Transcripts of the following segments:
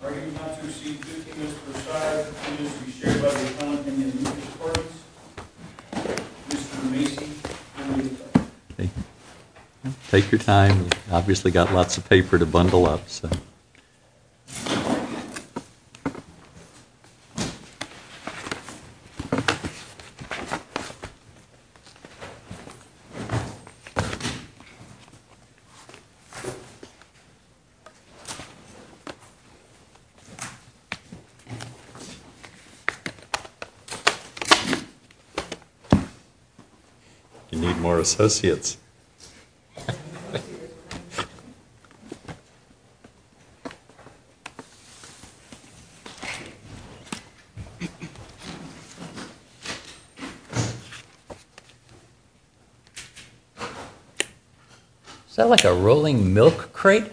Are you about to receive 50 minutes per side between us to be shared by the accountant Take your time. We've obviously got lots of paper to bundle up. You need more associates. Is that like a rolling milk crate?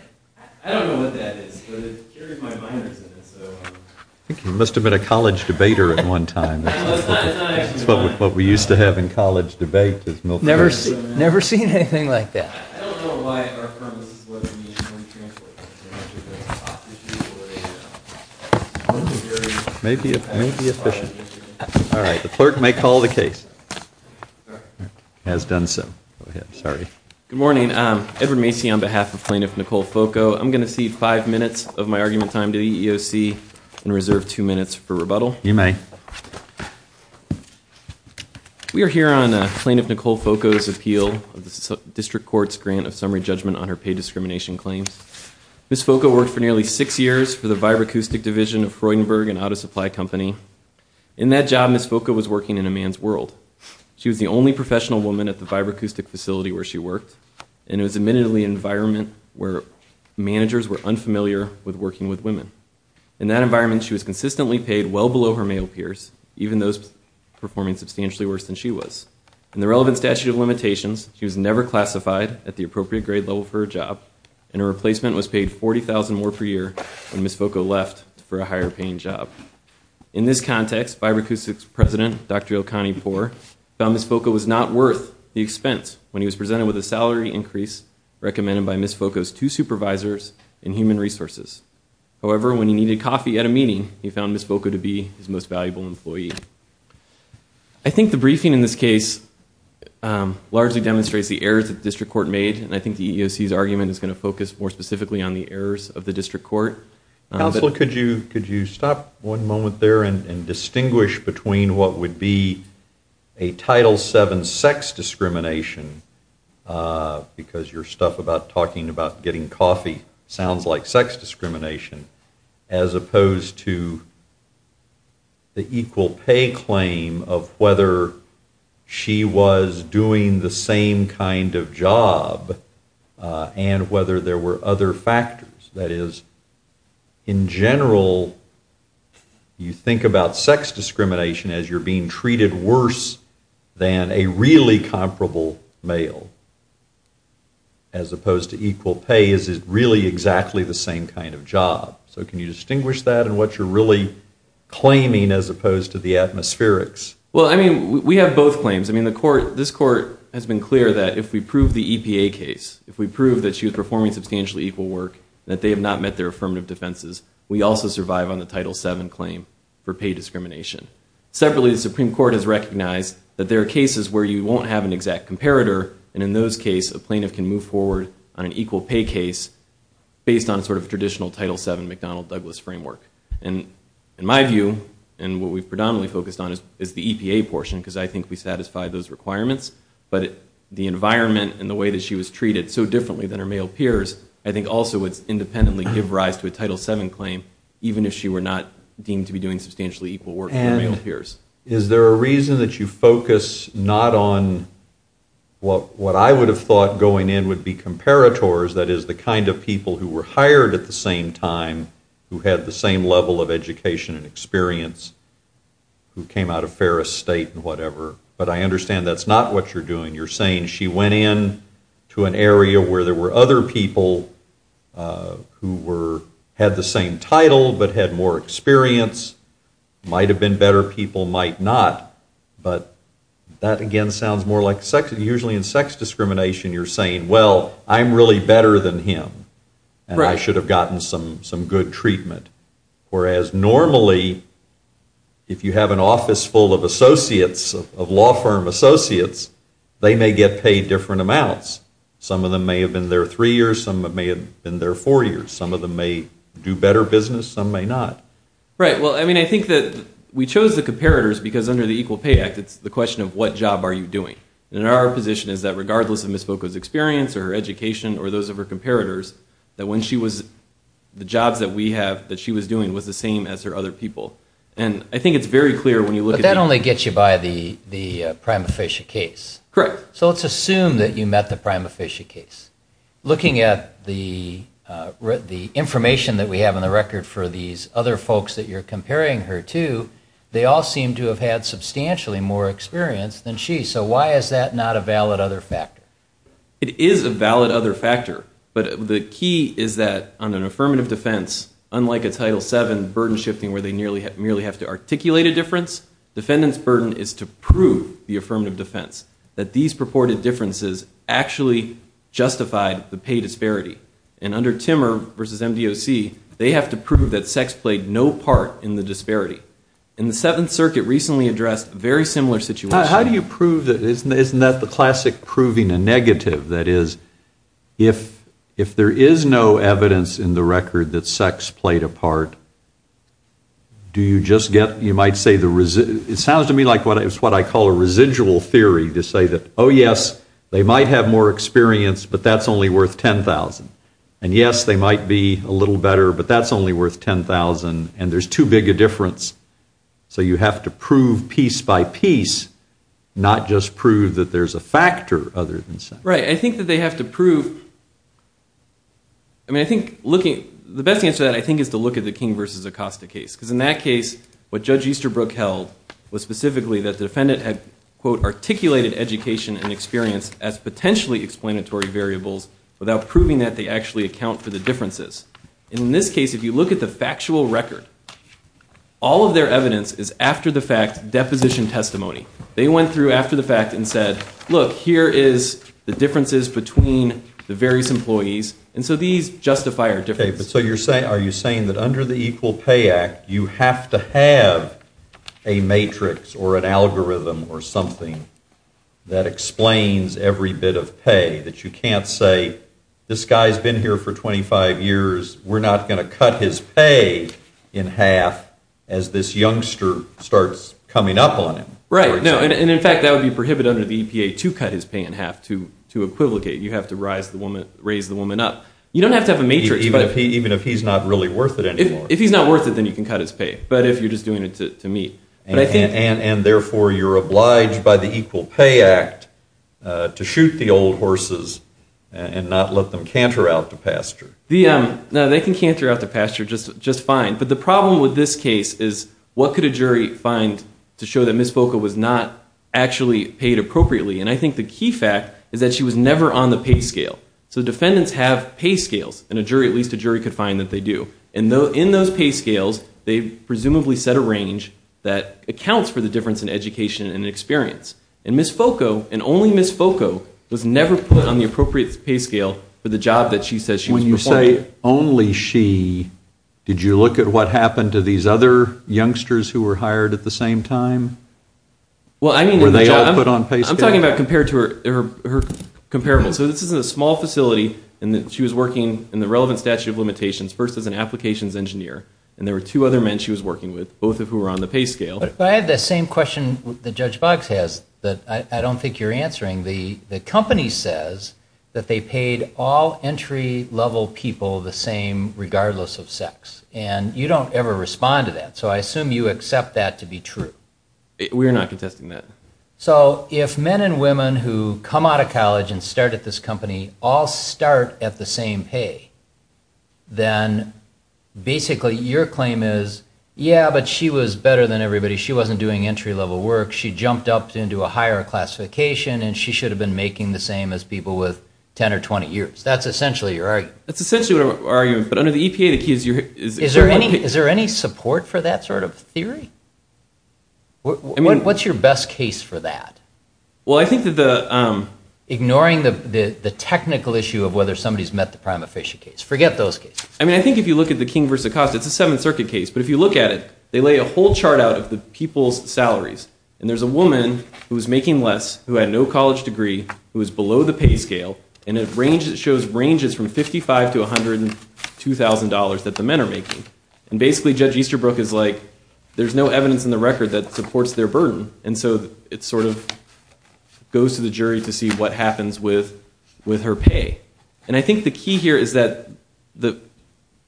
I don't know what that is, but it carries my minors in it. I think you must have been a college debater at one time. It's not actually mine. It's what we used to have in college debate. I've never seen anything like that. I don't know why our firm is supposed to be a human translator. It may be efficient. All right, the clerk may call the case. Has done so. Good morning. Edward Macy on behalf of Plaintiff Nicole Foco. I'm going to cede five minutes of my argument time to EEOC and reserve two minutes for rebuttal. You may. We are here on Plaintiff Nicole Foco's appeal of the District Court's grant of summary judgment on her paid discrimination claims. Ms. Foco worked for nearly six years for the vibroacoustic division of Freudenberg, an auto supply company. In that job, Ms. Foco was working in a man's world. She was the only professional woman at the vibroacoustic facility where she worked, and it was admittedly an environment where managers were unfamiliar with working with women. In that environment, she was consistently paid well below her male peers, even those performing substantially worse than she was. In the relevant statute of limitations, she was never classified at the appropriate grade level for her job, and her replacement was paid $40,000 more per year when Ms. Foco left for a higher-paying job. In this context, vibroacoustics president Dr. Ilkanyi Poore found Ms. Foco was not worth the expense when he was presented with a salary increase recommended by Ms. Foco's two supervisors and human resources. However, when he needed coffee at a meeting, he found Ms. Foco to be his most valuable employee. I think the briefing in this case largely demonstrates the errors that the District Court made, and I think the EEOC's argument is going to focus more specifically on the errors of the District Court. Counselor, could you stop one moment there and distinguish between what would be a Title VII sex discrimination, because your stuff about talking about getting coffee sounds like sex discrimination, as opposed to the equal pay claim of whether she was doing the same kind of job and whether there were other factors. That is, in general, you think about sex discrimination as you're being treated worse than a really comparable male, as opposed to equal pay, is it really exactly the same kind of job? So can you distinguish that and what you're really claiming as opposed to the atmospherics? Well, I mean, we have both claims. I mean, this Court has been clear that if we prove the EPA case, if we prove that she was performing substantially equal work, that they have not met their affirmative defenses, we also survive on the Title VII claim for pay discrimination. Separately, the Supreme Court has recognized that there are cases where you won't have an exact comparator, and in those cases, a plaintiff can move forward on an equal pay case based on sort of traditional Title VII McDonnell-Douglas framework. And in my view, and what we've predominantly focused on is the EPA portion, because I think we satisfy those requirements, but the environment and the way that she was treated so differently than her male peers, I think also would independently give rise to a Title VII claim, even if she were not deemed to be doing substantially equal work to her male peers. And is there a reason that you focus not on what I would have thought going in would be comparators, that is, the kind of people who were hired at the same time, who had the same level of education and experience, who came out of Ferris State and whatever. But I understand that's not what you're doing. You're saying she went in to an area where there were other people who had the same title, but had more experience, might have been better people, might not. But that, again, sounds more like sex. You're saying, well, I'm really better than him, and I should have gotten some good treatment. Whereas normally, if you have an office full of associates, of law firm associates, they may get paid different amounts. Some of them may have been there three years. Some of them may have been there four years. Some of them may do better business. Some may not. Right. Well, I mean, I think that we chose the comparators because under the Equal Pay Act, it's the question of what job are you doing. And our position is that regardless of Ms. Voca's experience or her education or those of her comparators, that the jobs that she was doing was the same as her other people. And I think it's very clear when you look at the— But that only gets you by the prima facie case. Correct. So let's assume that you met the prima facie case. Looking at the information that we have on the record for these other folks that you're comparing her to, they all seem to have had substantially more experience than she. So why is that not a valid other factor? It is a valid other factor. But the key is that on an affirmative defense, unlike a Title VII burden shifting where they merely have to articulate a difference, defendant's burden is to prove the affirmative defense, that these purported differences actually justified the pay disparity. And under Timmer v. MDOC, they have to prove that sex played no part in the disparity. And the Seventh Circuit recently addressed a very similar situation. How do you prove that? Isn't that the classic proving a negative? That is, if there is no evidence in the record that sex played a part, do you just get— you might say the—it sounds to me like it's what I call a residual theory to say that, oh, yes, they might have more experience, but that's only worth $10,000. And yes, they might be a little better, but that's only worth $10,000, and there's too big a difference. So you have to prove piece by piece, not just prove that there's a factor other than sex. Right. I think that they have to prove—I mean, I think looking— the best answer to that, I think, is to look at the King v. Acosta case. Because in that case, what Judge Easterbrook held was specifically that the defendant had, quote, articulated education and experience as potentially explanatory variables without proving that they actually account for the differences. And in this case, if you look at the factual record, all of their evidence is after-the-fact deposition testimony. They went through after-the-fact and said, look, here is the differences between the various employees, and so these justify our difference. Okay, but so you're saying—are you saying that under the Equal Pay Act, you have to have a matrix or an algorithm or something that explains every bit of pay, that you can't say, this guy's been here for 25 years, we're not going to cut his pay in half as this youngster starts coming up on him? Right, no, and in fact, that would be prohibited under the EPA to cut his pay in half, to equivocate. You have to raise the woman up. You don't have to have a matrix, but— Even if he's not really worth it anymore. If he's not worth it, then you can cut his pay. But if you're just doing it to meet— And therefore, you're obliged by the Equal Pay Act to shoot the old horses and not let them canter out to pasture. No, they can canter out to pasture just fine. But the problem with this case is, what could a jury find to show that Ms. Voca was not actually paid appropriately? And I think the key fact is that she was never on the pay scale. So defendants have pay scales, and at least a jury could find that they do. And in those pay scales, they presumably set a range that accounts for the difference in education and experience. And Ms. Voca, and only Ms. Voca, was never put on the appropriate pay scale for the job that she says she was performing. When you say only she, did you look at what happened to these other youngsters who were hired at the same time? Well, I mean— Were they all put on pay scale? I'm talking about compared to her comparable. So this is a small facility, and she was working in the relevant statute of limitations first as an applications engineer, and there were two other men she was working with, both of who were on the pay scale. But I have the same question that Judge Boggs has that I don't think you're answering. The company says that they paid all entry-level people the same regardless of sex, and you don't ever respond to that. So I assume you accept that to be true. We are not contesting that. So if men and women who come out of college and start at this company all start at the same pay, then basically your claim is, yeah, but she was better than everybody. She wasn't doing entry-level work. She jumped up into a higher classification, and she should have been making the same as people with 10 or 20 years. That's essentially your argument. That's essentially our argument. But under the EPA, the key is— Is there any support for that sort of theory? I mean— What's your best case for that? Well, I think that the— The technical issue of whether somebody's met the prima facie case. Forget those cases. I mean, I think if you look at the King v. Acosta, it's a Seventh Circuit case. But if you look at it, they lay a whole chart out of the people's salaries. And there's a woman who was making less, who had no college degree, who was below the pay scale, and it shows ranges from $55,000 to $102,000 that the men are making. And basically Judge Easterbrook is like, there's no evidence in the record that supports their burden. And so it sort of goes to the jury to see what happens with her pay. And I think the key here is that it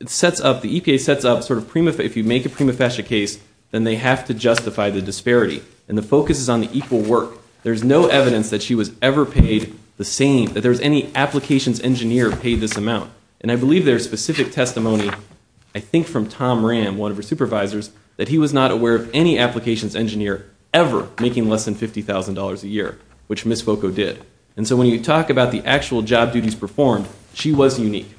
sets up— The EPA sets up sort of prima— If you make a prima facie case, then they have to justify the disparity. And the focus is on the equal work. There's no evidence that she was ever paid the same— That there was any applications engineer paid this amount. And I believe there's specific testimony, I think from Tom Ram, one of her supervisors, that he was not aware of any applications engineer ever making less than $50,000 a year, which Ms. Foco did. And so when you talk about the actual job duties performed, she was unique.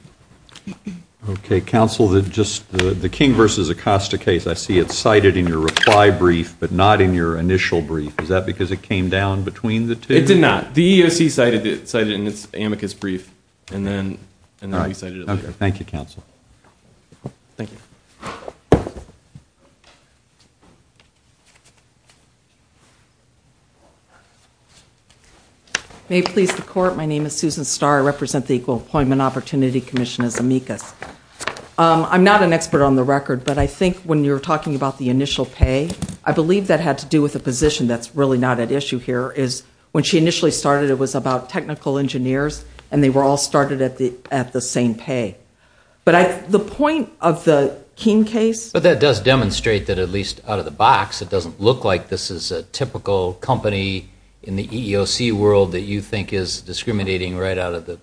Okay, counsel, the King v. Acosta case, I see it cited in your reply brief, but not in your initial brief. Is that because it came down between the two? It did not. The EEOC cited it in its amicus brief, and then we cited it later. Okay, thank you, counsel. Thank you. May it please the Court, my name is Susan Starr. I represent the Equal Employment Opportunity Commission as amicus. I'm not an expert on the record, but I think when you were talking about the initial pay, I believe that had to do with a position that's really not at issue here, is when she initially started it was about technical engineers, and they were all started at the same pay. But the point of the King case. But that does demonstrate that, at least out of the box, it doesn't look like this is a typical company in the EEOC world that you think is discriminating right out of the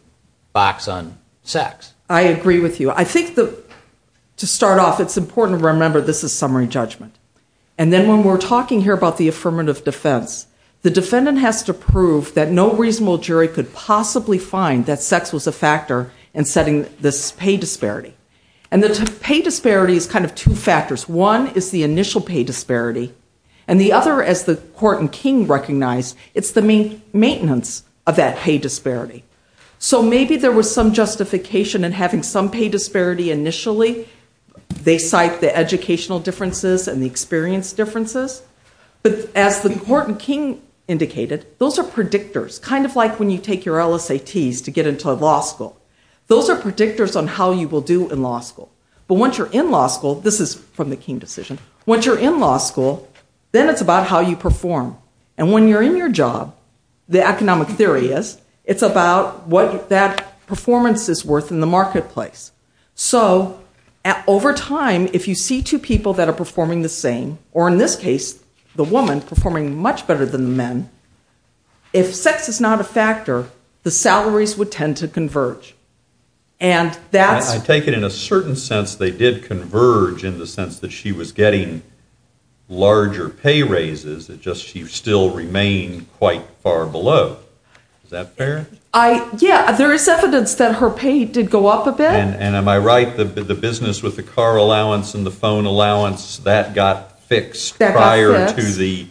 box on sex. I agree with you. I think to start off, it's important to remember this is summary judgment. And then when we're talking here about the affirmative defense, the defendant has to prove that no reasonable jury could possibly find that sex was a factor in setting this pay disparity. And the pay disparity is kind of two factors. One is the initial pay disparity. And the other, as the Court and King recognized, it's the maintenance of that pay disparity. So maybe there was some justification in having some pay disparity initially. They cite the educational differences and the experience differences. But as the Court and King indicated, those are predictors, kind of like when you take your LSATs to get into law school. Those are predictors on how you will do in law school. But once you're in law school, this is from the King decision, once you're in law school, then it's about how you perform. And when you're in your job, the economic theory is, it's about what that performance is worth in the marketplace. So over time, if you see two people that are performing the same, or in this case, the woman performing much better than the men, if sex is not a factor, the salaries would tend to converge. I take it in a certain sense they did converge in the sense that she was getting larger pay raises, it's just she still remained quite far below. Is that fair? Yeah, there is evidence that her pay did go up a bit. And am I right that the business with the car allowance and the phone allowance, that got fixed prior to the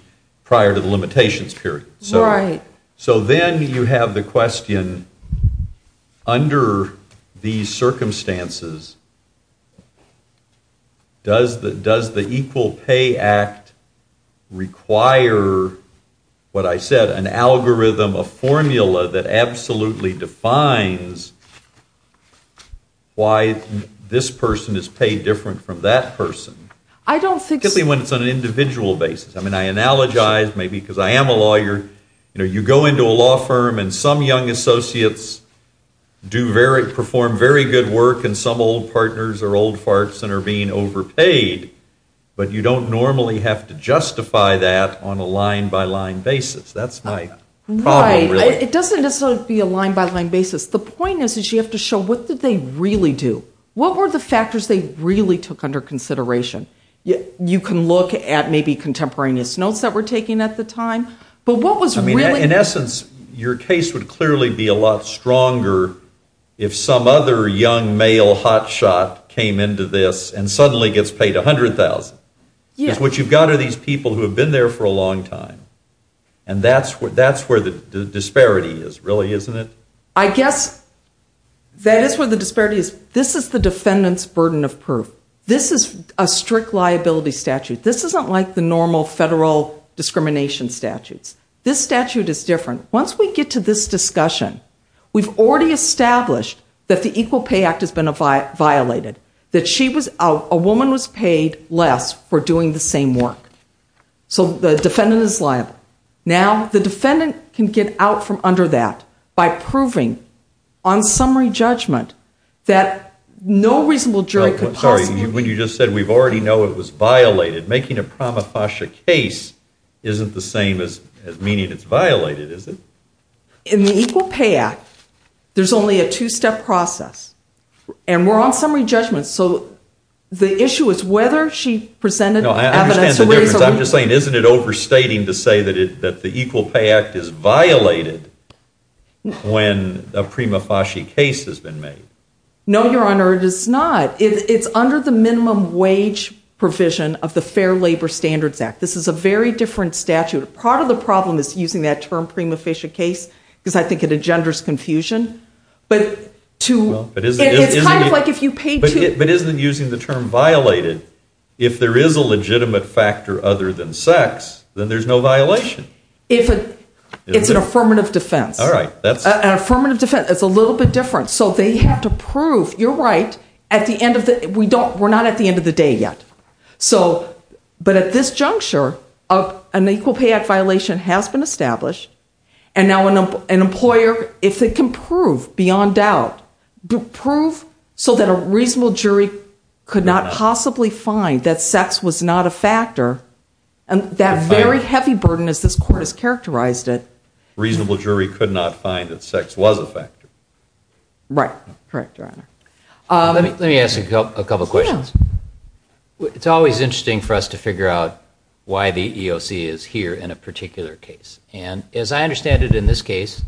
limitations period? Right. So then you have the question, under these circumstances, does the Equal Pay Act require what I said, an algorithm, a formula that absolutely defines why this person is paid different from that person? I don't think so. Especially when it's on an individual basis. I mean, I analogize maybe because I am a lawyer. You go into a law firm and some young associates perform very good work and some old partners are old farts and are being overpaid, but you don't normally have to justify that on a line-by-line basis. That's my problem really. Right. It doesn't necessarily be a line-by-line basis. The point is that you have to show what did they really do. What were the factors they really took under consideration? You can look at maybe contemporaneous notes that were taken at the time. I mean, in essence, your case would clearly be a lot stronger if some other young male hotshot came into this and suddenly gets paid $100,000. Because what you've got are these people who have been there for a long time, and that's where the disparity is, really, isn't it? I guess that is where the disparity is. This is the defendant's burden of proof. This is a strict liability statute. This isn't like the normal federal discrimination statutes. This statute is different. Once we get to this discussion, we've already established that the Equal Pay Act has been violated, that a woman was paid less for doing the same work. So the defendant is liable. Now, the defendant can get out from under that by proving, on summary judgment, that no reasonable jury could possibly... Sorry, when you just said we already know it was violated, making a prima facie case isn't the same as meaning it's violated, is it? In the Equal Pay Act, there's only a two-step process, and we're on summary judgment. No, I understand the difference. I'm just saying, isn't it overstating to say that the Equal Pay Act is violated when a prima facie case has been made? No, Your Honor, it is not. It's under the minimum wage provision of the Fair Labor Standards Act. This is a very different statute. Part of the problem is using that term, prima facie case, because I think it engenders confusion. But it's kind of like if you paid two... But isn't using the term violated if there is a legitimate factor other than sex, then there's no violation? It's an affirmative defense. All right. An affirmative defense is a little bit different. So they have to prove, you're right, at the end of the... We're not at the end of the day yet. But at this juncture, an Equal Pay Act violation has been established, and now an employer, if they can prove beyond doubt, prove so that a reasonable jury could not possibly find that sex was not a factor, and that very heavy burden, as this Court has characterized it... Reasonable jury could not find that sex was a factor. Right. Correct, Your Honor. Let me ask you a couple questions. It's always interesting for us to figure out why the EEOC is here in a particular case. And as I understand it in this case,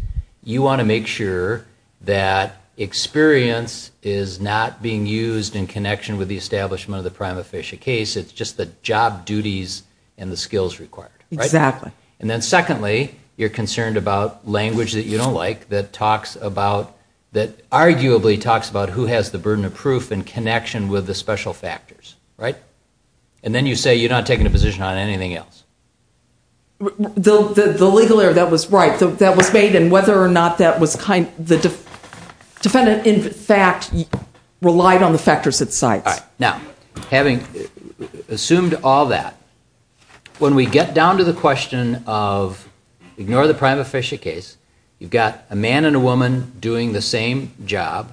you want to make sure that experience is not being used in connection with the establishment of the prima facie case. It's just the job duties and the skills required. Exactly. And then secondly, you're concerned about language that you don't like that talks about... that arguably talks about who has the burden of proof in connection with the special factors, right? And then you say you're not taking a position on anything else. The legal error, that was right. That was made, and whether or not that was kind... the defendant, in fact, relied on the factors at site. All right. Now, having assumed all that, when we get down to the question of, ignore the prima facie case, you've got a man and a woman doing the same job.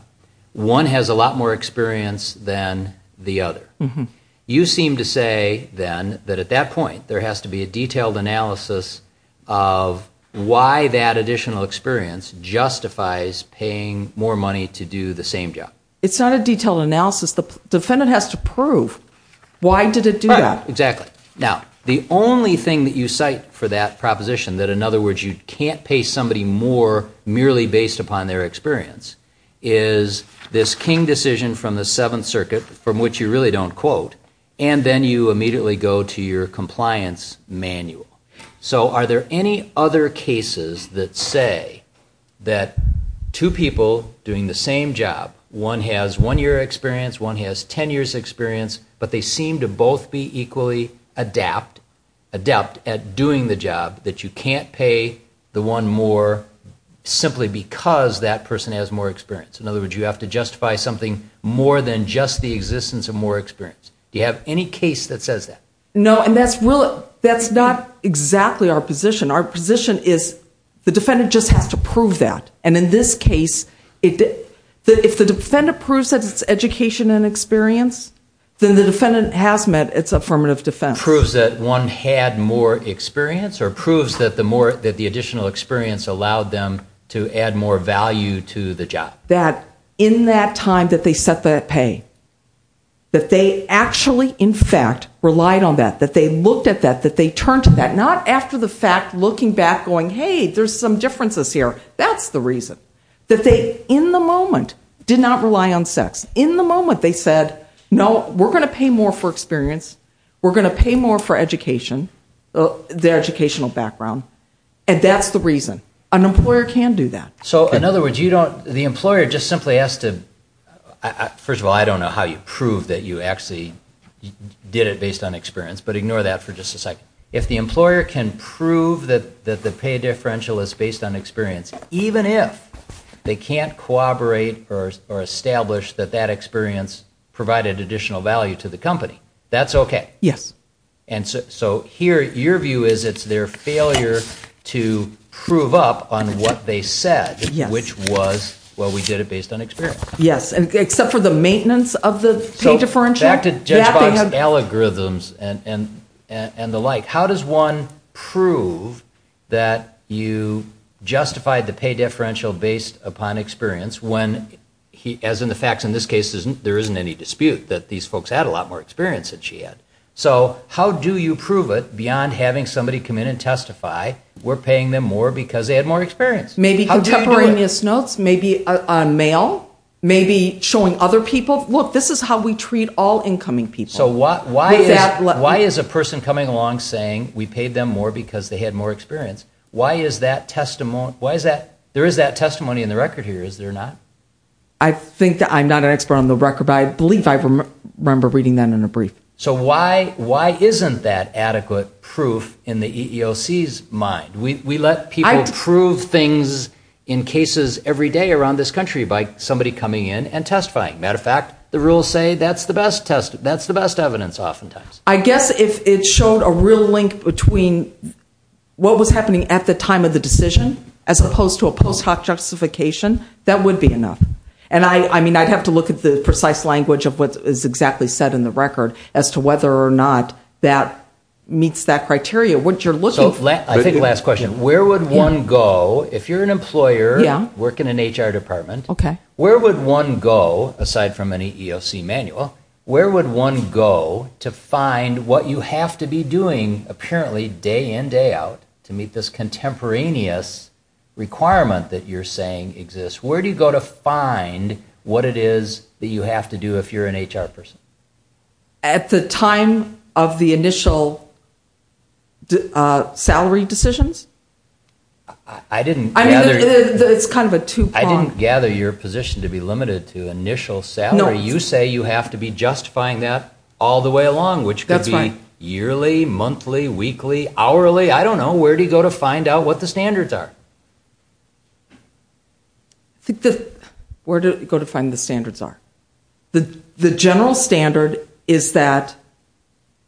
One has a lot more experience than the other. You seem to say then that at that point there has to be a detailed analysis of why that additional experience justifies paying more money to do the same job. It's not a detailed analysis. The defendant has to prove why did it do that. Right. Exactly. Now, the only thing that you cite for that proposition, that in other words you can't pay somebody more merely based upon their experience, is this King decision from the Seventh Circuit, from which you really don't quote, and then you immediately go to your compliance manual. So are there any other cases that say that two people doing the same job, one has one year experience, one has 10 years experience, but they seem to both be equally adept at doing the job, that you can't pay the one more simply because that person has more experience. In other words, you have to justify something more than just the existence of more experience. Do you have any case that says that? No, and that's not exactly our position. Our position is the defendant just has to prove that. And in this case, if the defendant proves that it's education and experience, then the defendant has met its affirmative defense. Proves that one had more experience or proves that the additional experience allowed them to add more value to the job? That in that time that they set that pay, that they actually, in fact, relied on that, that they looked at that, that they turned to that, not after the fact looking back going, hey, there's some differences here. That's the reason. That they, in the moment, did not rely on sex. In the moment they said, no, we're going to pay more for experience, we're going to pay more for education, their educational background, and that's the reason. An employer can do that. So in other words, you don't, the employer just simply has to, first of all, I don't know how you prove that you actually did it based on experience, but ignore that for just a second. If the employer can prove that the pay differential is based on experience, even if they can't corroborate or establish that that experience provided additional value to the company, that's okay? Yes. And so here your view is it's their failure to prove up on what they said, which was, well, we did it based on experience. Yes, except for the maintenance of the pay differential. So back to Judge Box's algorithms and the like, how does one prove that you justified the pay differential based upon experience when, as in the facts in this case, there isn't any dispute that these folks had a lot more experience than she had. So how do you prove it beyond having somebody come in and testify, we're paying them more because they had more experience? Maybe contemporaneous notes, maybe on mail, maybe showing other people, look, this is how we treat all incoming people. So why is a person coming along saying we paid them more because they had more experience? Why is that testimony, why is that, there is that testimony in the record here, is there not? I think I'm not an expert on the record, but I believe I remember reading that in a brief. So why isn't that adequate proof in the EEOC's mind? We let people prove things in cases every day around this country by somebody coming in and testifying. Matter of fact, the rules say that's the best evidence oftentimes. I guess if it showed a real link between what was happening at the time of the decision as opposed to a post hoc justification, that would be enough. And I'd have to look at the precise language of what is exactly said in the record as to whether or not that meets that criteria. I think the last question, where would one go, if you're an employer, work in an HR department, where would one go, aside from an EEOC manual, where would one go to find what you have to be doing apparently day in, day out, to meet this contemporaneous requirement that you're saying exists? Where do you go to find what it is that you have to do if you're an HR person? At the time of the initial salary decisions? I didn't gather... It's kind of a two-prong. I didn't gather your position to be limited to initial salary. You say you have to be justifying that all the way along, which could be yearly, monthly, weekly, hourly. I don't know. Where do you go to find out what the standards are? I think the... Where do you go to find the standards are? The general standard is that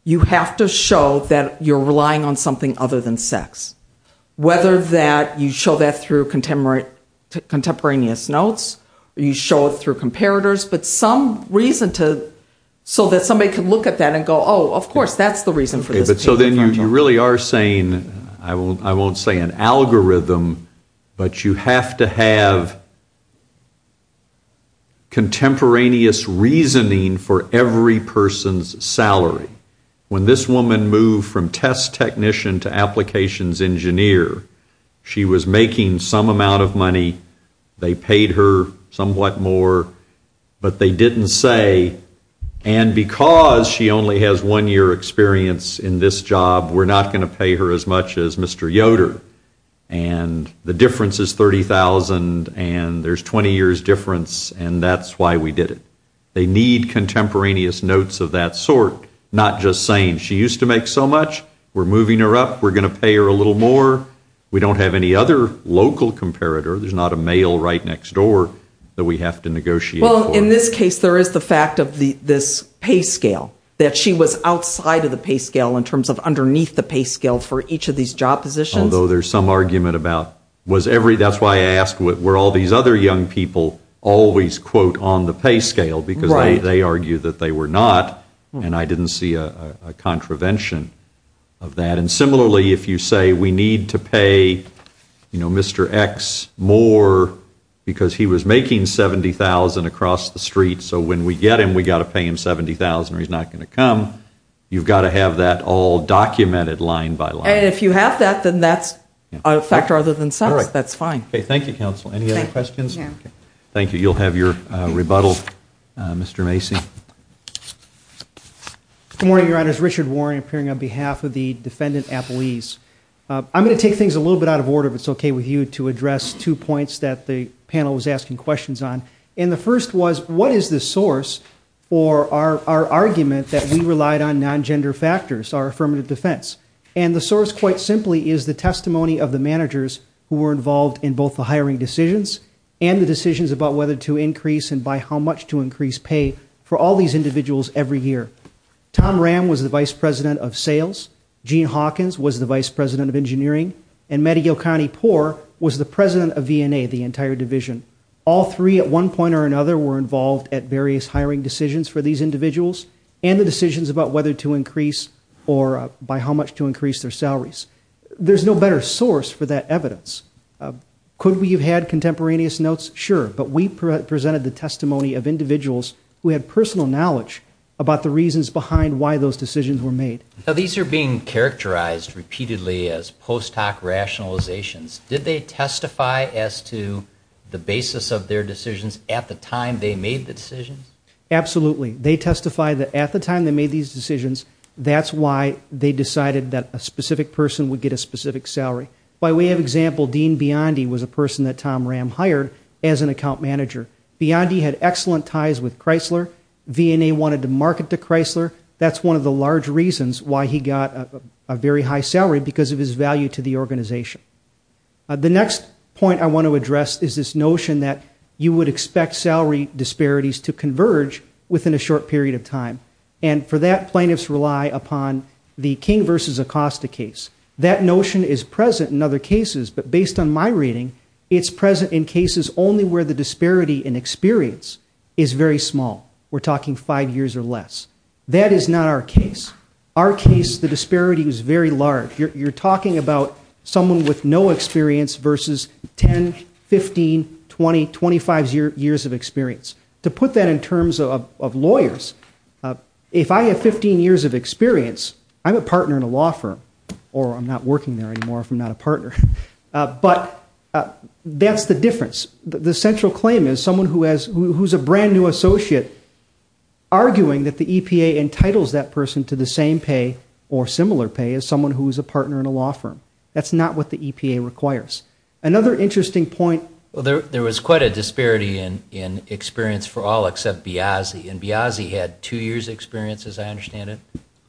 you have to show that you're relying on something other than sex, whether that you show that through contemporaneous notes, you show it through comparators, but some reason to... so that somebody could look at that and go, oh, of course, that's the reason for this. So then you really are saying, I won't say an algorithm, but you have to have contemporaneous reasoning for every person's salary. When this woman moved from test technician to applications engineer, she was making some amount of money. They paid her somewhat more, but they didn't say, and because she only has one year experience in this job, we're not going to pay her as much as Mr. Yoder, and the difference is $30,000, and there's 20 years difference, and that's why we did it. They need contemporaneous notes of that sort, not just saying, she used to make so much, we're moving her up, we're going to pay her a little more. We don't have any other local comparator. There's not a male right next door that we have to negotiate for. Well, in this case, there is the fact of this pay scale, that she was outside of the pay scale in terms of underneath the pay scale for each of these job positions. Although there's some argument about, that's why I asked were all these other young people always, quote, on the pay scale, because they argued that they were not, and I didn't see a contravention of that. And similarly, if you say we need to pay Mr. X more because he was making $70,000 across the street, so when we get him, we've got to pay him $70,000 or he's not going to come, you've got to have that all documented line by line. And if you have that, then that's a factor other than sense. That's fine. Okay, thank you, Counsel. Any other questions? No. Thank you. You'll have your rebuttal, Mr. Macy. Good morning, Your Honors. I'm going to take things a little bit out of order, if it's okay with you, to address two points that the panel was asking questions on. And the first was, what is the source for our argument that we relied on non-gender factors, our affirmative defense? And the source, quite simply, is the testimony of the managers who were involved in both the hiring decisions and the decisions about whether to increase and by how much to increase pay for all these individuals every year. Tom Ram was the Vice President of Sales. Gene Hawkins was the Vice President of Engineering. And Matty Yocani-Poor was the President of V&A, the entire division. All three, at one point or another, were involved at various hiring decisions for these individuals and the decisions about whether to increase or by how much to increase their salaries. There's no better source for that evidence. Could we have had contemporaneous notes? Sure. But we presented the testimony of individuals who had personal knowledge about the reasons behind why those decisions were made. Now, these are being characterized repeatedly as post-hoc rationalizations. Did they testify as to the basis of their decisions at the time they made the decisions? Absolutely. They testified that at the time they made these decisions, that's why they decided that a specific person would get a specific salary. By way of example, Dean Biondi was a person that Tom Ram hired as an account manager. Biondi had excellent ties with Chrysler. V&A wanted to market to Chrysler. That's one of the large reasons why he got a very high salary, because of his value to the organization. The next point I want to address is this notion that you would expect salary disparities to converge within a short period of time, and for that, plaintiffs rely upon the King v. Acosta case. That notion is present in other cases, but based on my reading, it's present in cases only where the disparity in experience is very small. We're talking five years or less. That is not our case. Our case, the disparity was very large. You're talking about someone with no experience versus 10, 15, 20, 25 years of experience. To put that in terms of lawyers, if I have 15 years of experience, I'm a partner in a law firm, or I'm not working there anymore if I'm not a partner. But that's the difference. The central claim is someone who is a brand-new associate arguing that the EPA entitles that person to the same pay or similar pay as someone who is a partner in a law firm. That's not what the EPA requires. Another interesting point. There was quite a disparity in experience for all except Biazzi, and Biazzi had two years' experience, as I understand it,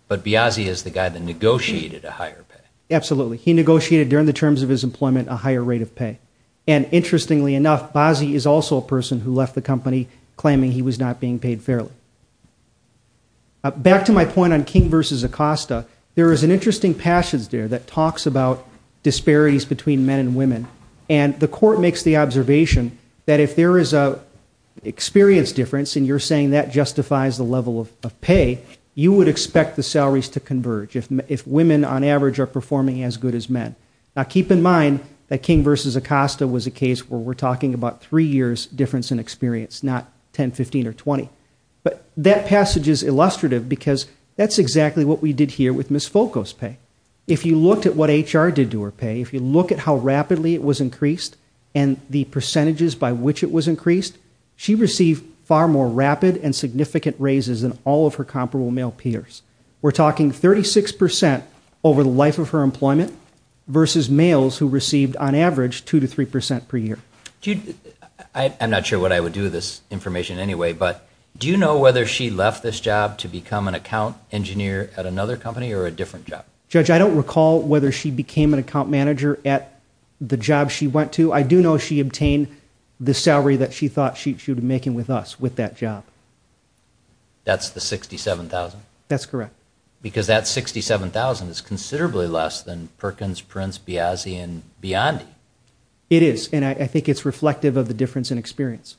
but Biazzi is the guy that negotiated a higher pay. Absolutely. He negotiated, during the terms of his employment, a higher rate of pay. And interestingly enough, Biazzi is also a person who left the company claiming he was not being paid fairly. Back to my point on King versus Acosta, there is an interesting passage there that talks about disparities between men and women, and the court makes the observation that if there is an experience difference, and you're saying that justifies the level of pay, you would expect the salaries to converge if women, on average, are performing as good as men. Now keep in mind that King versus Acosta was a case where we're talking about three years' difference in experience, not 10, 15, or 20. But that passage is illustrative because that's exactly what we did here with Ms. Folkos' pay. If you looked at what HR did to her pay, if you look at how rapidly it was increased and the percentages by which it was increased, she received far more rapid and significant raises than all of her comparable male peers. We're talking 36% over the life of her employment versus males who received, on average, 2% to 3% per year. I'm not sure what I would do with this information anyway, but do you know whether she left this job to become an account engineer at another company or a different job? Judge, I don't recall whether she became an account manager at the job she went to. I do know she obtained the salary that she thought she should be making with us with that job. That's the $67,000? That's correct. Because that $67,000 is considerably less than Perkins, Prince, Biazzi, and Biondi. It is, and I think it's reflective of the difference in experience.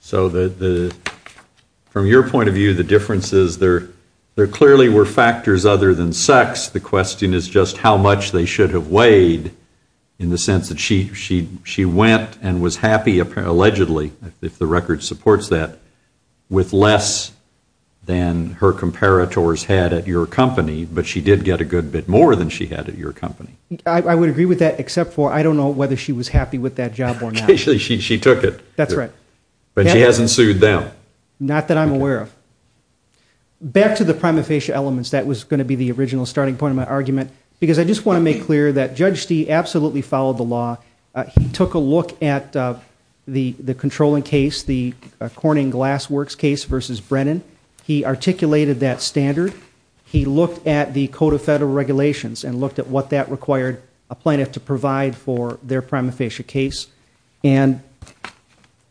So from your point of view, the difference is there clearly were factors other than sex. The question is just how much they should have weighed in the sense that she went and was happy, allegedly, if the record supports that, with less than her comparators had at your company, but she did get a good bit more than she had at your company. I would agree with that, except for I don't know whether she was happy with that job or not. She took it. That's right. But she hasn't sued them. Not that I'm aware of. Back to the prima facie elements. That was going to be the original starting point of my argument because I just want to make clear that Judge Stee absolutely followed the law. He took a look at the controlling case, the Corning Glassworks case versus Brennan. He articulated that standard. He looked at the Code of Federal Regulations and looked at what that required a plaintiff to provide for their prima facie case. And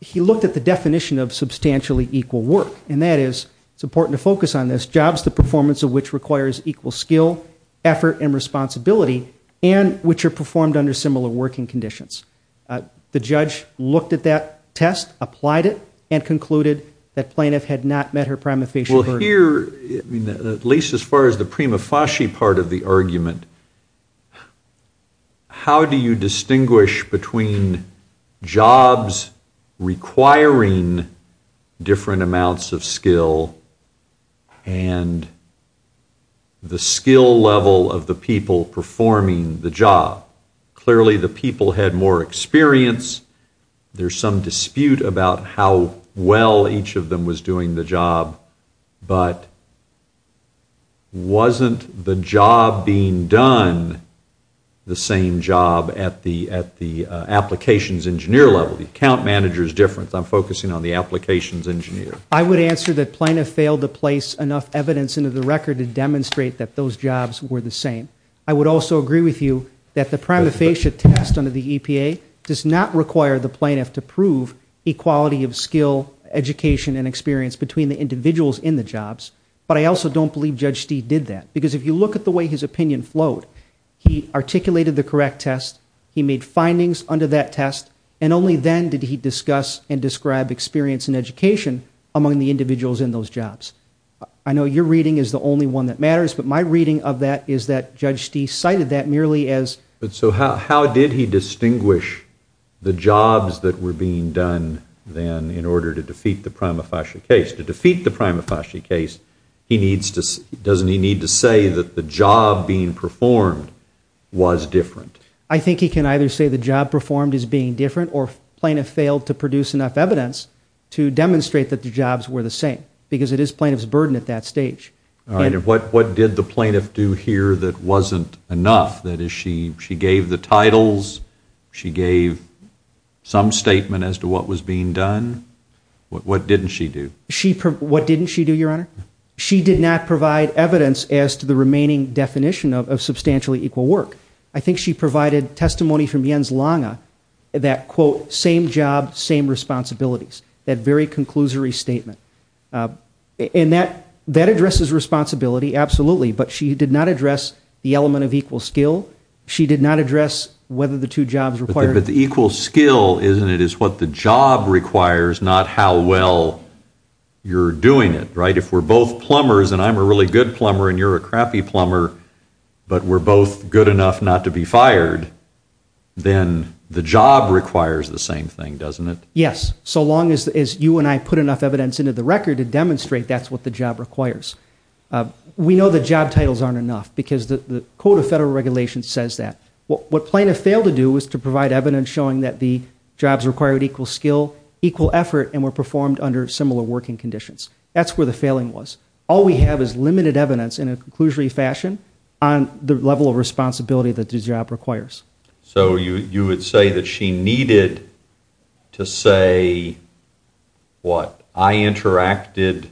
he looked at the definition of substantially equal work, and that is, it's important to focus on this, jobs the performance of which requires equal skill, effort, and responsibility, and which are performed under similar working conditions. The judge looked at that test, applied it, and concluded that plaintiff had not met her prima facie burden. Well, here, at least as far as the prima facie part of the argument, how do you distinguish between jobs requiring different amounts of skill and the skill level of the people performing the job? Clearly, the people had more experience. There's some dispute about how well each of them was doing the job, but wasn't the job being done the same job at the applications engineer level? The account manager is different. I'm focusing on the applications engineer. I would answer that plaintiff failed to place enough evidence into the record to demonstrate that those jobs were the same. I would also agree with you that the prima facie test under the EPA does not require the plaintiff to prove equality of skill, education, and experience between the individuals in the jobs, but I also don't believe Judge Stee did that, because if you look at the way his opinion flowed, he articulated the correct test, he made findings under that test, and only then did he discuss and describe experience and education among the individuals in those jobs. I know your reading is the only one that matters, but my reading of that is that Judge Stee cited that merely as... So how did he distinguish the jobs that were being done then in order to defeat the prima facie case? To defeat the prima facie case, doesn't he need to say that the job being performed was different? I think he can either say the job performed is being different or plaintiff failed to produce enough evidence to demonstrate that the jobs were the same, because it is plaintiff's burden at that stage. All right, and what did the plaintiff do here that wasn't enough? That is, she gave the titles, she gave some statement as to what was being done. What didn't she do? What didn't she do, Your Honor? She did not provide evidence as to the remaining definition of substantially equal work. I think she provided testimony from Jens Lange that, quote, same job, same responsibilities, that very conclusory statement. And that addresses responsibility, absolutely, but she did not address the element of equal skill. She did not address whether the two jobs required... But the equal skill, isn't it, is what the job requires, not how well you're doing it, right? If we're both plumbers, and I'm a really good plumber and you're a crappy plumber, but we're both good enough not to be fired, then the job requires the same thing, doesn't it? Yes, so long as you and I put enough evidence into the record to demonstrate that's what the job requires. We know the job titles aren't enough, because the Code of Federal Regulations says that. What plaintiff failed to do was to provide evidence showing that the jobs required equal skill, equal effort, and were performed under similar working conditions. That's where the failing was. All we have is limited evidence in a conclusory fashion on the level of responsibility that the job requires. So you would say that she needed to say, what, I interacted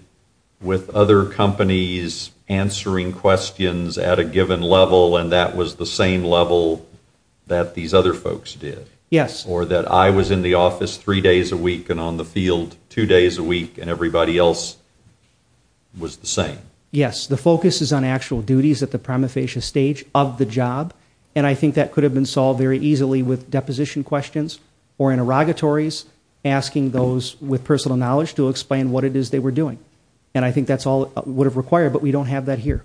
with other companies answering questions at a given level, and that was the same level that these other folks did? Yes. Or that I was in the office three days a week and on the field two days a week, and everybody else was the same? Yes. The focus is on actual duties at the prima facie stage of the job, and I think that could have been solved very easily with deposition questions or interrogatories, asking those with personal knowledge to explain what it is they were doing. And I think that's all it would have required, but we don't have that here.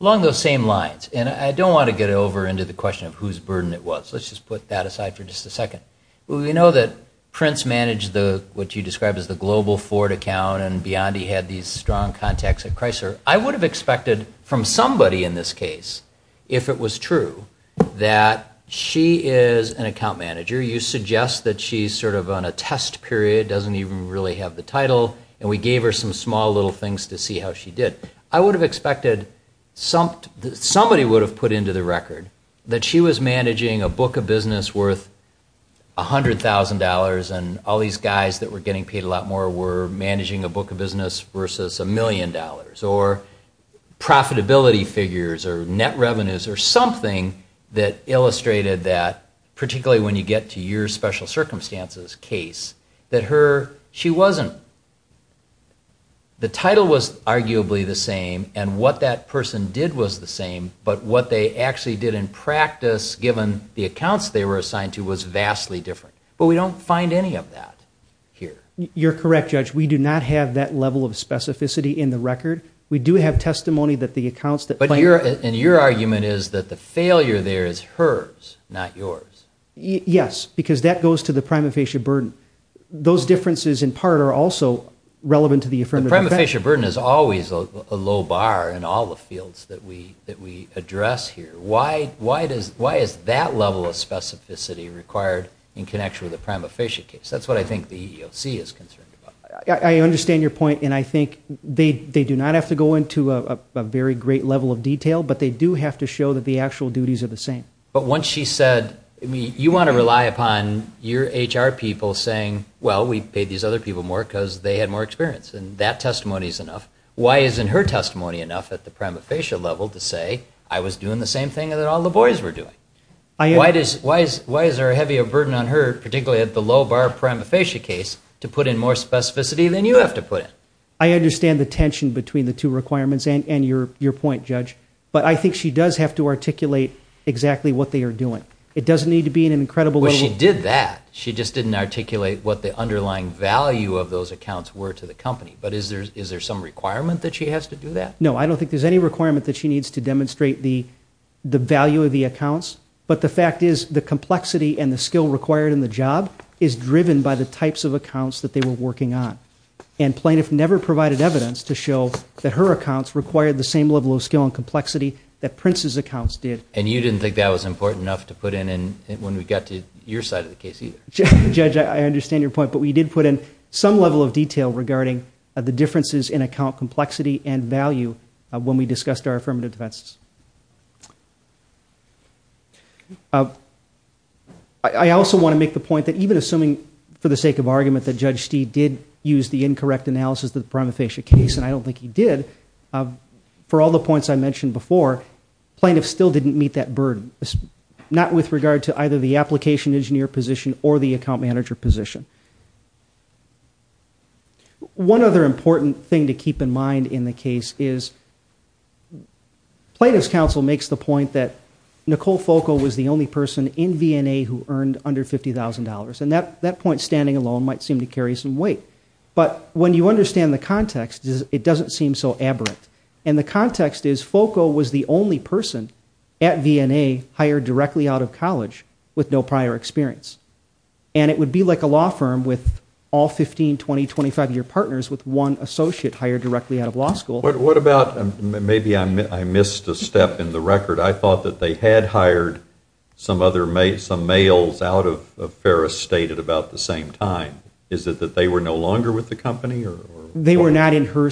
Along those same lines, and I don't want to get over into the question of whose burden it was. Let's just put that aside for just a second. We know that Prince managed what you described as the global Ford account, and Biondi had these strong contacts at Chrysler. I would have expected from somebody in this case, if it was true, that she is an account manager. You suggest that she's sort of on a test period, doesn't even really have the title, and we gave her some small little things to see how she did. I would have expected somebody would have put into the record that she was managing a book of business worth $100,000 and all these guys that were getting paid a lot more were managing a book of business versus a million dollars, or profitability figures, or net revenues, or something that illustrated that, particularly when you get to your special circumstances case, that she wasn't. The title was arguably the same, and what that person did was the same, but what they actually did in practice, given the accounts they were assigned to, was vastly different. But we don't find any of that here. You're correct, Judge. We do not have that level of specificity in the record. We do have testimony that the accounts that claim that. And your argument is that the failure there is hers, not yours. Yes, because that goes to the prima facie burden. Those differences, in part, are also relevant to the affirmative defense. The prima facie burden is always a low bar in all the fields that we address here. Why is that level of specificity required in connection with a prima facie case? That's what I think the EEOC is concerned about. I understand your point, and I think they do not have to go into a very great level of detail, but they do have to show that the actual duties are the same. But once she said, you want to rely upon your HR people saying, well, we paid these other people more because they had more experience, and that testimony is enough, why isn't her testimony enough at the prima facie level to say, I was doing the same thing that all the boys were doing? Why is there a heavier burden on her, particularly at the low bar prima facie case, to put in more specificity than you have to put in? I understand the tension between the two requirements and your point, Judge, but I think she does have to articulate exactly what they are doing. It doesn't need to be in an incredible level. Well, she did that. She just didn't articulate what the underlying value of those accounts were to the company. But is there some requirement that she has to do that? No, I don't think there's any requirement that she needs to demonstrate the value of the accounts, but the fact is the complexity and the skill required in the job is driven by the types of accounts that they were working on. And plaintiff never provided evidence to show that her accounts required the same level of skill and complexity that Prince's accounts did. And you didn't think that was important enough to put in when we got to your side of the case either? Judge, I understand your point, but we did put in some level of detail regarding the differences in account complexity and value when we discussed our affirmative defenses. I also want to make the point that even assuming, for the sake of argument, that Judge Stee did use the incorrect analysis of the prima facie case, and I don't think he did, for all the points I mentioned before, plaintiff still didn't meet that burden, not with regard to either the application engineer position or the account manager position. One other important thing to keep in mind in the case is plaintiff's counsel makes the point that Nicole Foco was the only person in V&A who earned under $50,000, and that point standing alone might seem to carry some weight. But when you understand the context, it doesn't seem so aberrant. And the context is Foco was the only person at V&A hired directly out of college with no prior experience. And it would be like a law firm with all 15, 20, 25-year partners with one associate hired directly out of law school. What about, maybe I missed a step in the record, I thought that they had hired some males out of Ferris State at about the same time. Is it that they were no longer with the company? They were not in her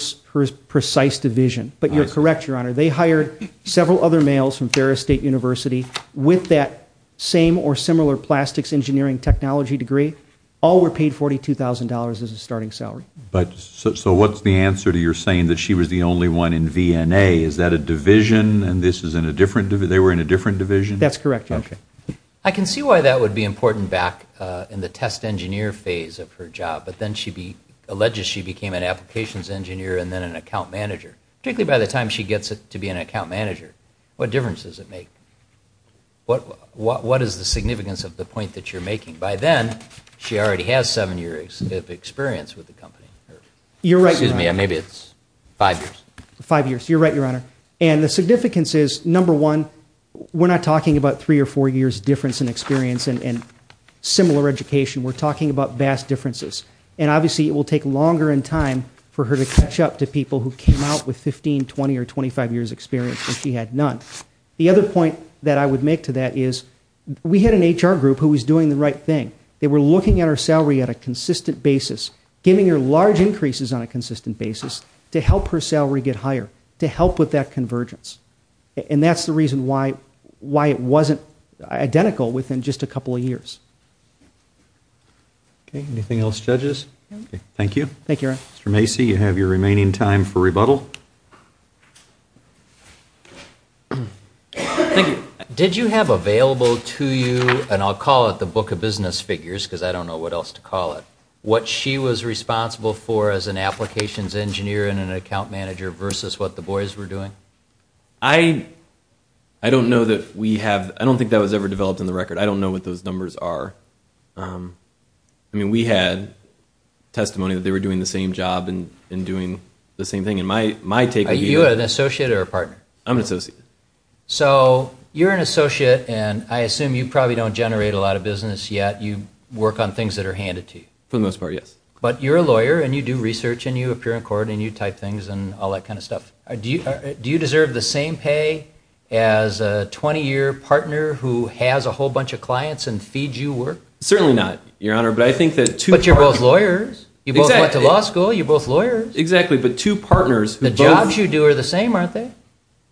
precise division. But you're correct, Your Honor. They hired several other males from Ferris State University with that same or similar plastics engineering technology degree. All were paid $42,000 as a starting salary. So what's the answer to your saying that she was the only one in V&A? Is that a division and they were in a different division? That's correct, Your Honor. I can see why that would be important back in the test engineer phase of her job. But then she alleges she became an applications engineer and then an account manager. Particularly by the time she gets to be an account manager. What difference does it make? What is the significance of the point that you're making? By then, she already has seven years of experience with the company. You're right, Your Honor. Excuse me, maybe it's five years. Five years, you're right, Your Honor. And the significance is, number one, we're not talking about three or four years difference in experience and similar education. We're talking about vast differences. And obviously it will take longer in time for her to catch up to people who came out with 15, 20, or 25 years experience when she had none. The other point that I would make to that is we had an HR group who was doing the right thing. They were looking at her salary at a consistent basis. Giving her large increases on a consistent basis to help her salary get higher. To help with that convergence. And that's the reason why it wasn't identical within just a couple of years. Okay, anything else, judges? Thank you. Thank you, Your Honor. Mr. Macy, you have your remaining time for rebuttal. Thank you. Did you have available to you, and I'll call it the book of business figures because I don't know what else to call it, what she was responsible for as an applications engineer and an account manager versus what the boys were doing? I don't know that we have – I don't think that was ever developed in the record. I don't know what those numbers are. I mean, we had testimony that they were doing the same job and doing the same thing. And my take would be – Are you an associate or a partner? I'm an associate. So you're an associate, and I assume you probably don't generate a lot of business yet. You work on things that are handed to you. For the most part, yes. But you're a lawyer, and you do research, and you appear in court, and you type things and all that kind of stuff. Do you deserve the same pay as a 20-year partner who has a whole bunch of clients and feeds you work? Certainly not, Your Honor, but I think that two – But you're both lawyers. Exactly. You both went to law school. You're both lawyers. Exactly, but two partners – The jobs you do are the same, aren't they?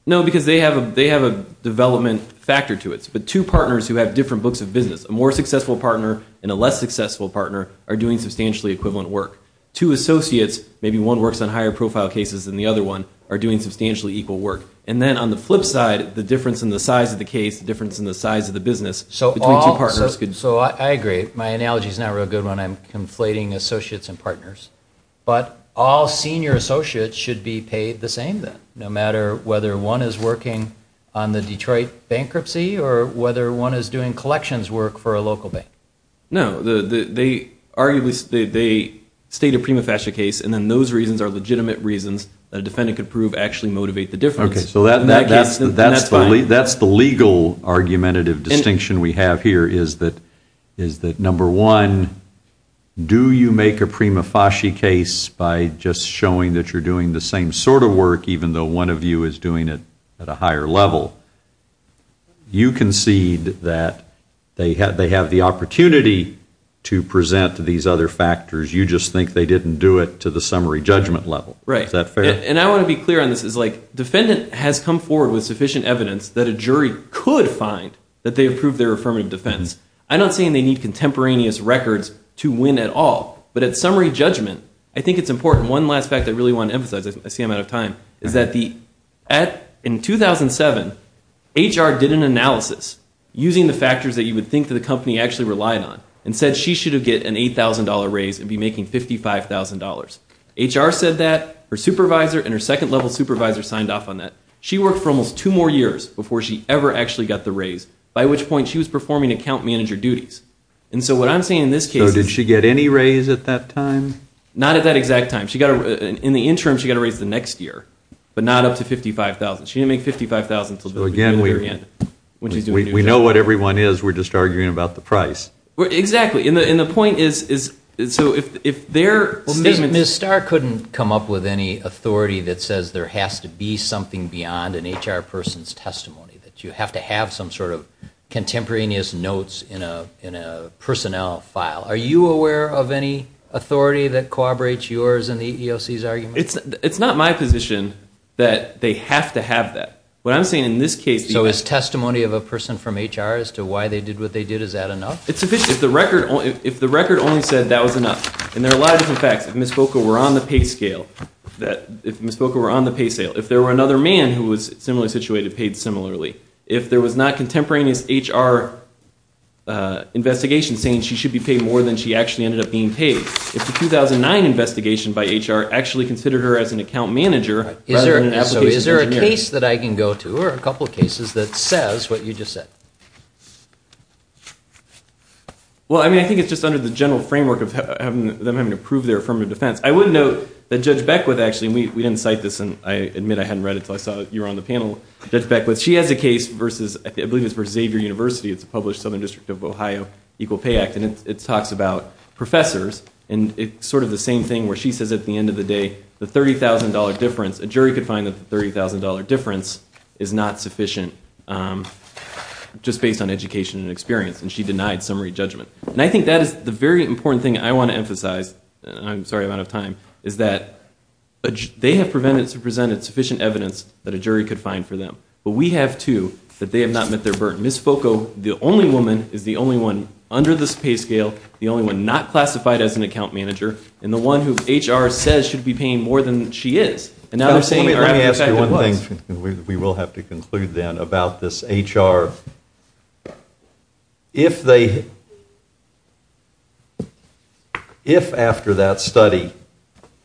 No, because they have a development factor to it. But two partners who have different books of business, a more successful partner and a less successful partner, are doing substantially equivalent work. Two associates, maybe one works on higher profile cases than the other one, are doing substantially equal work. And then on the flip side, the difference in the size of the case, the difference in the size of the business between two partners could – So I agree. My analogy is not a real good one. I'm conflating associates and partners. But all senior associates should be paid the same then, no matter whether one is working on the Detroit bankruptcy or whether one is doing collections work for a local bank. No, they state a prima facie case, and then those reasons are legitimate reasons that a defendant could prove actually motivate the difference. Okay, so that's the legal argumentative distinction we have here, is that, number one, do you make a prima facie case by just showing that you're doing the same sort of work even though one of you is doing it at a higher level? You concede that they have the opportunity to present these other factors. You just think they didn't do it to the summary judgment level. Right. Is that fair? And I want to be clear on this. It's like defendant has come forward with sufficient evidence that a jury could find that they approved their affirmative defense. I'm not saying they need contemporaneous records to win at all. But at summary judgment, I think it's important. One last fact I really want to emphasize, I see I'm out of time, is that in 2007, HR did an analysis using the factors that you would think that the company actually relied on and said she should have get an $8,000 raise and be making $55,000. HR said that, her supervisor and her second-level supervisor signed off on that. She worked for almost two more years before she ever actually got the raise, by which point she was performing account manager duties. And so what I'm saying in this case is... So did she get any raise at that time? Not at that exact time. In the interim, she got a raise the next year, but not up to $55,000. She didn't make $55,000 until the beginning of the year. We know what everyone is. We're just arguing about the price. Exactly. And the point is, so if their statements... Ms. Starr couldn't come up with any authority that says there has to be something beyond an HR person's testimony, that you have to have some sort of contemporaneous notes in a personnel file. Are you aware of any authority that corroborates yours and the EEOC's argument? It's not my position that they have to have that. What I'm saying in this case... So is testimony of a person from HR as to why they did what they did, is that enough? If the record only said that was enough. And there are a lot of different facts. If Ms. Voca were on the pay scale, if Ms. Voca were on the pay scale, if there were another man who was similarly situated, paid similarly, if there was not contemporaneous HR investigation saying she should be paid more than she actually ended up being paid, if the 2009 investigation by HR actually considered her as an account manager rather than an application engineer... So is there a case that I can go to or a couple of cases that says what you just said? Well, I mean, I think it's just under the general framework of them having to prove their affirmative defense. I would note that Judge Beckwith actually, and we didn't cite this, and I admit I hadn't read it until I saw you were on the panel, Judge Beckwith, she has a case, I believe it's for Xavier University, it's a published Southern District of Ohio Equal Pay Act, and it talks about professors and sort of the same thing where she says at the end of the day, the $30,000 difference, a jury could find that the $30,000 difference is not sufficient just based on education and experience, and she denied summary judgment. And I think that is the very important thing I want to emphasize, and I'm sorry I'm out of time, is that they have presented sufficient evidence that a jury could find for them. But we have, too, that they have not met their burden. Ms. Foucault, the only woman, is the only one under this pay scale, the only one not classified as an account manager, and the one who HR says should be paying more than she is. And now they're saying our affidavit was. Let me ask you one thing, and we will have to conclude then, about this HR. If after that study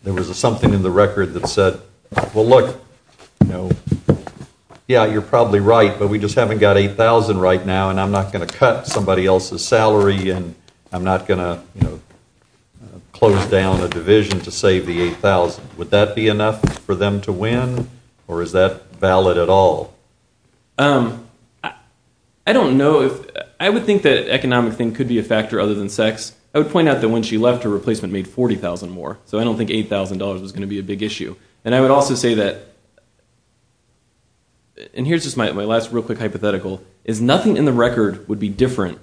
there was something in the record that said, well, look, yeah, you're probably right, but we just haven't got $8,000 right now, and I'm not going to cut somebody else's salary, and I'm not going to close down a division to save the $8,000. Would that be enough for them to win, or is that valid at all? I don't know. I would think that an economic thing could be a factor other than sex. I would point out that when she left, her replacement made $40,000 more, so I don't think $8,000 was going to be a big issue. And I would also say that, and here's just my last real quick hypothetical, is nothing in the record would be different.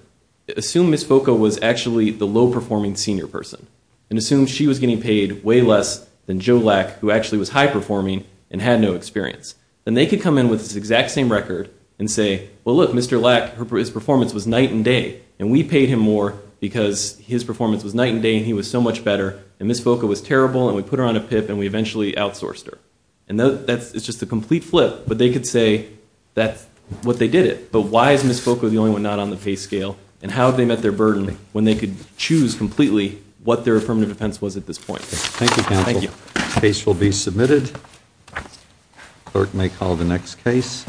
Assume Ms. Foucault was actually the low-performing senior person, and assume she was getting paid way less than Joe Lack, who actually was high-performing and had no experience. Then they could come in with this exact same record and say, well, look, Mr. Lack, his performance was night and day, and we paid him more because his performance was night and day, and he was so much better, and Ms. Foucault was terrible, and we put her on a PIP, and we eventually outsourced her. It's just a complete flip, but they could say that's what they did it. But why is Ms. Foucault the only one not on the PACE scale, and how have they met their burden when they could choose completely what their affirmative defense was at this point? Thank you, counsel. The case will be submitted. Clerk may call the next case.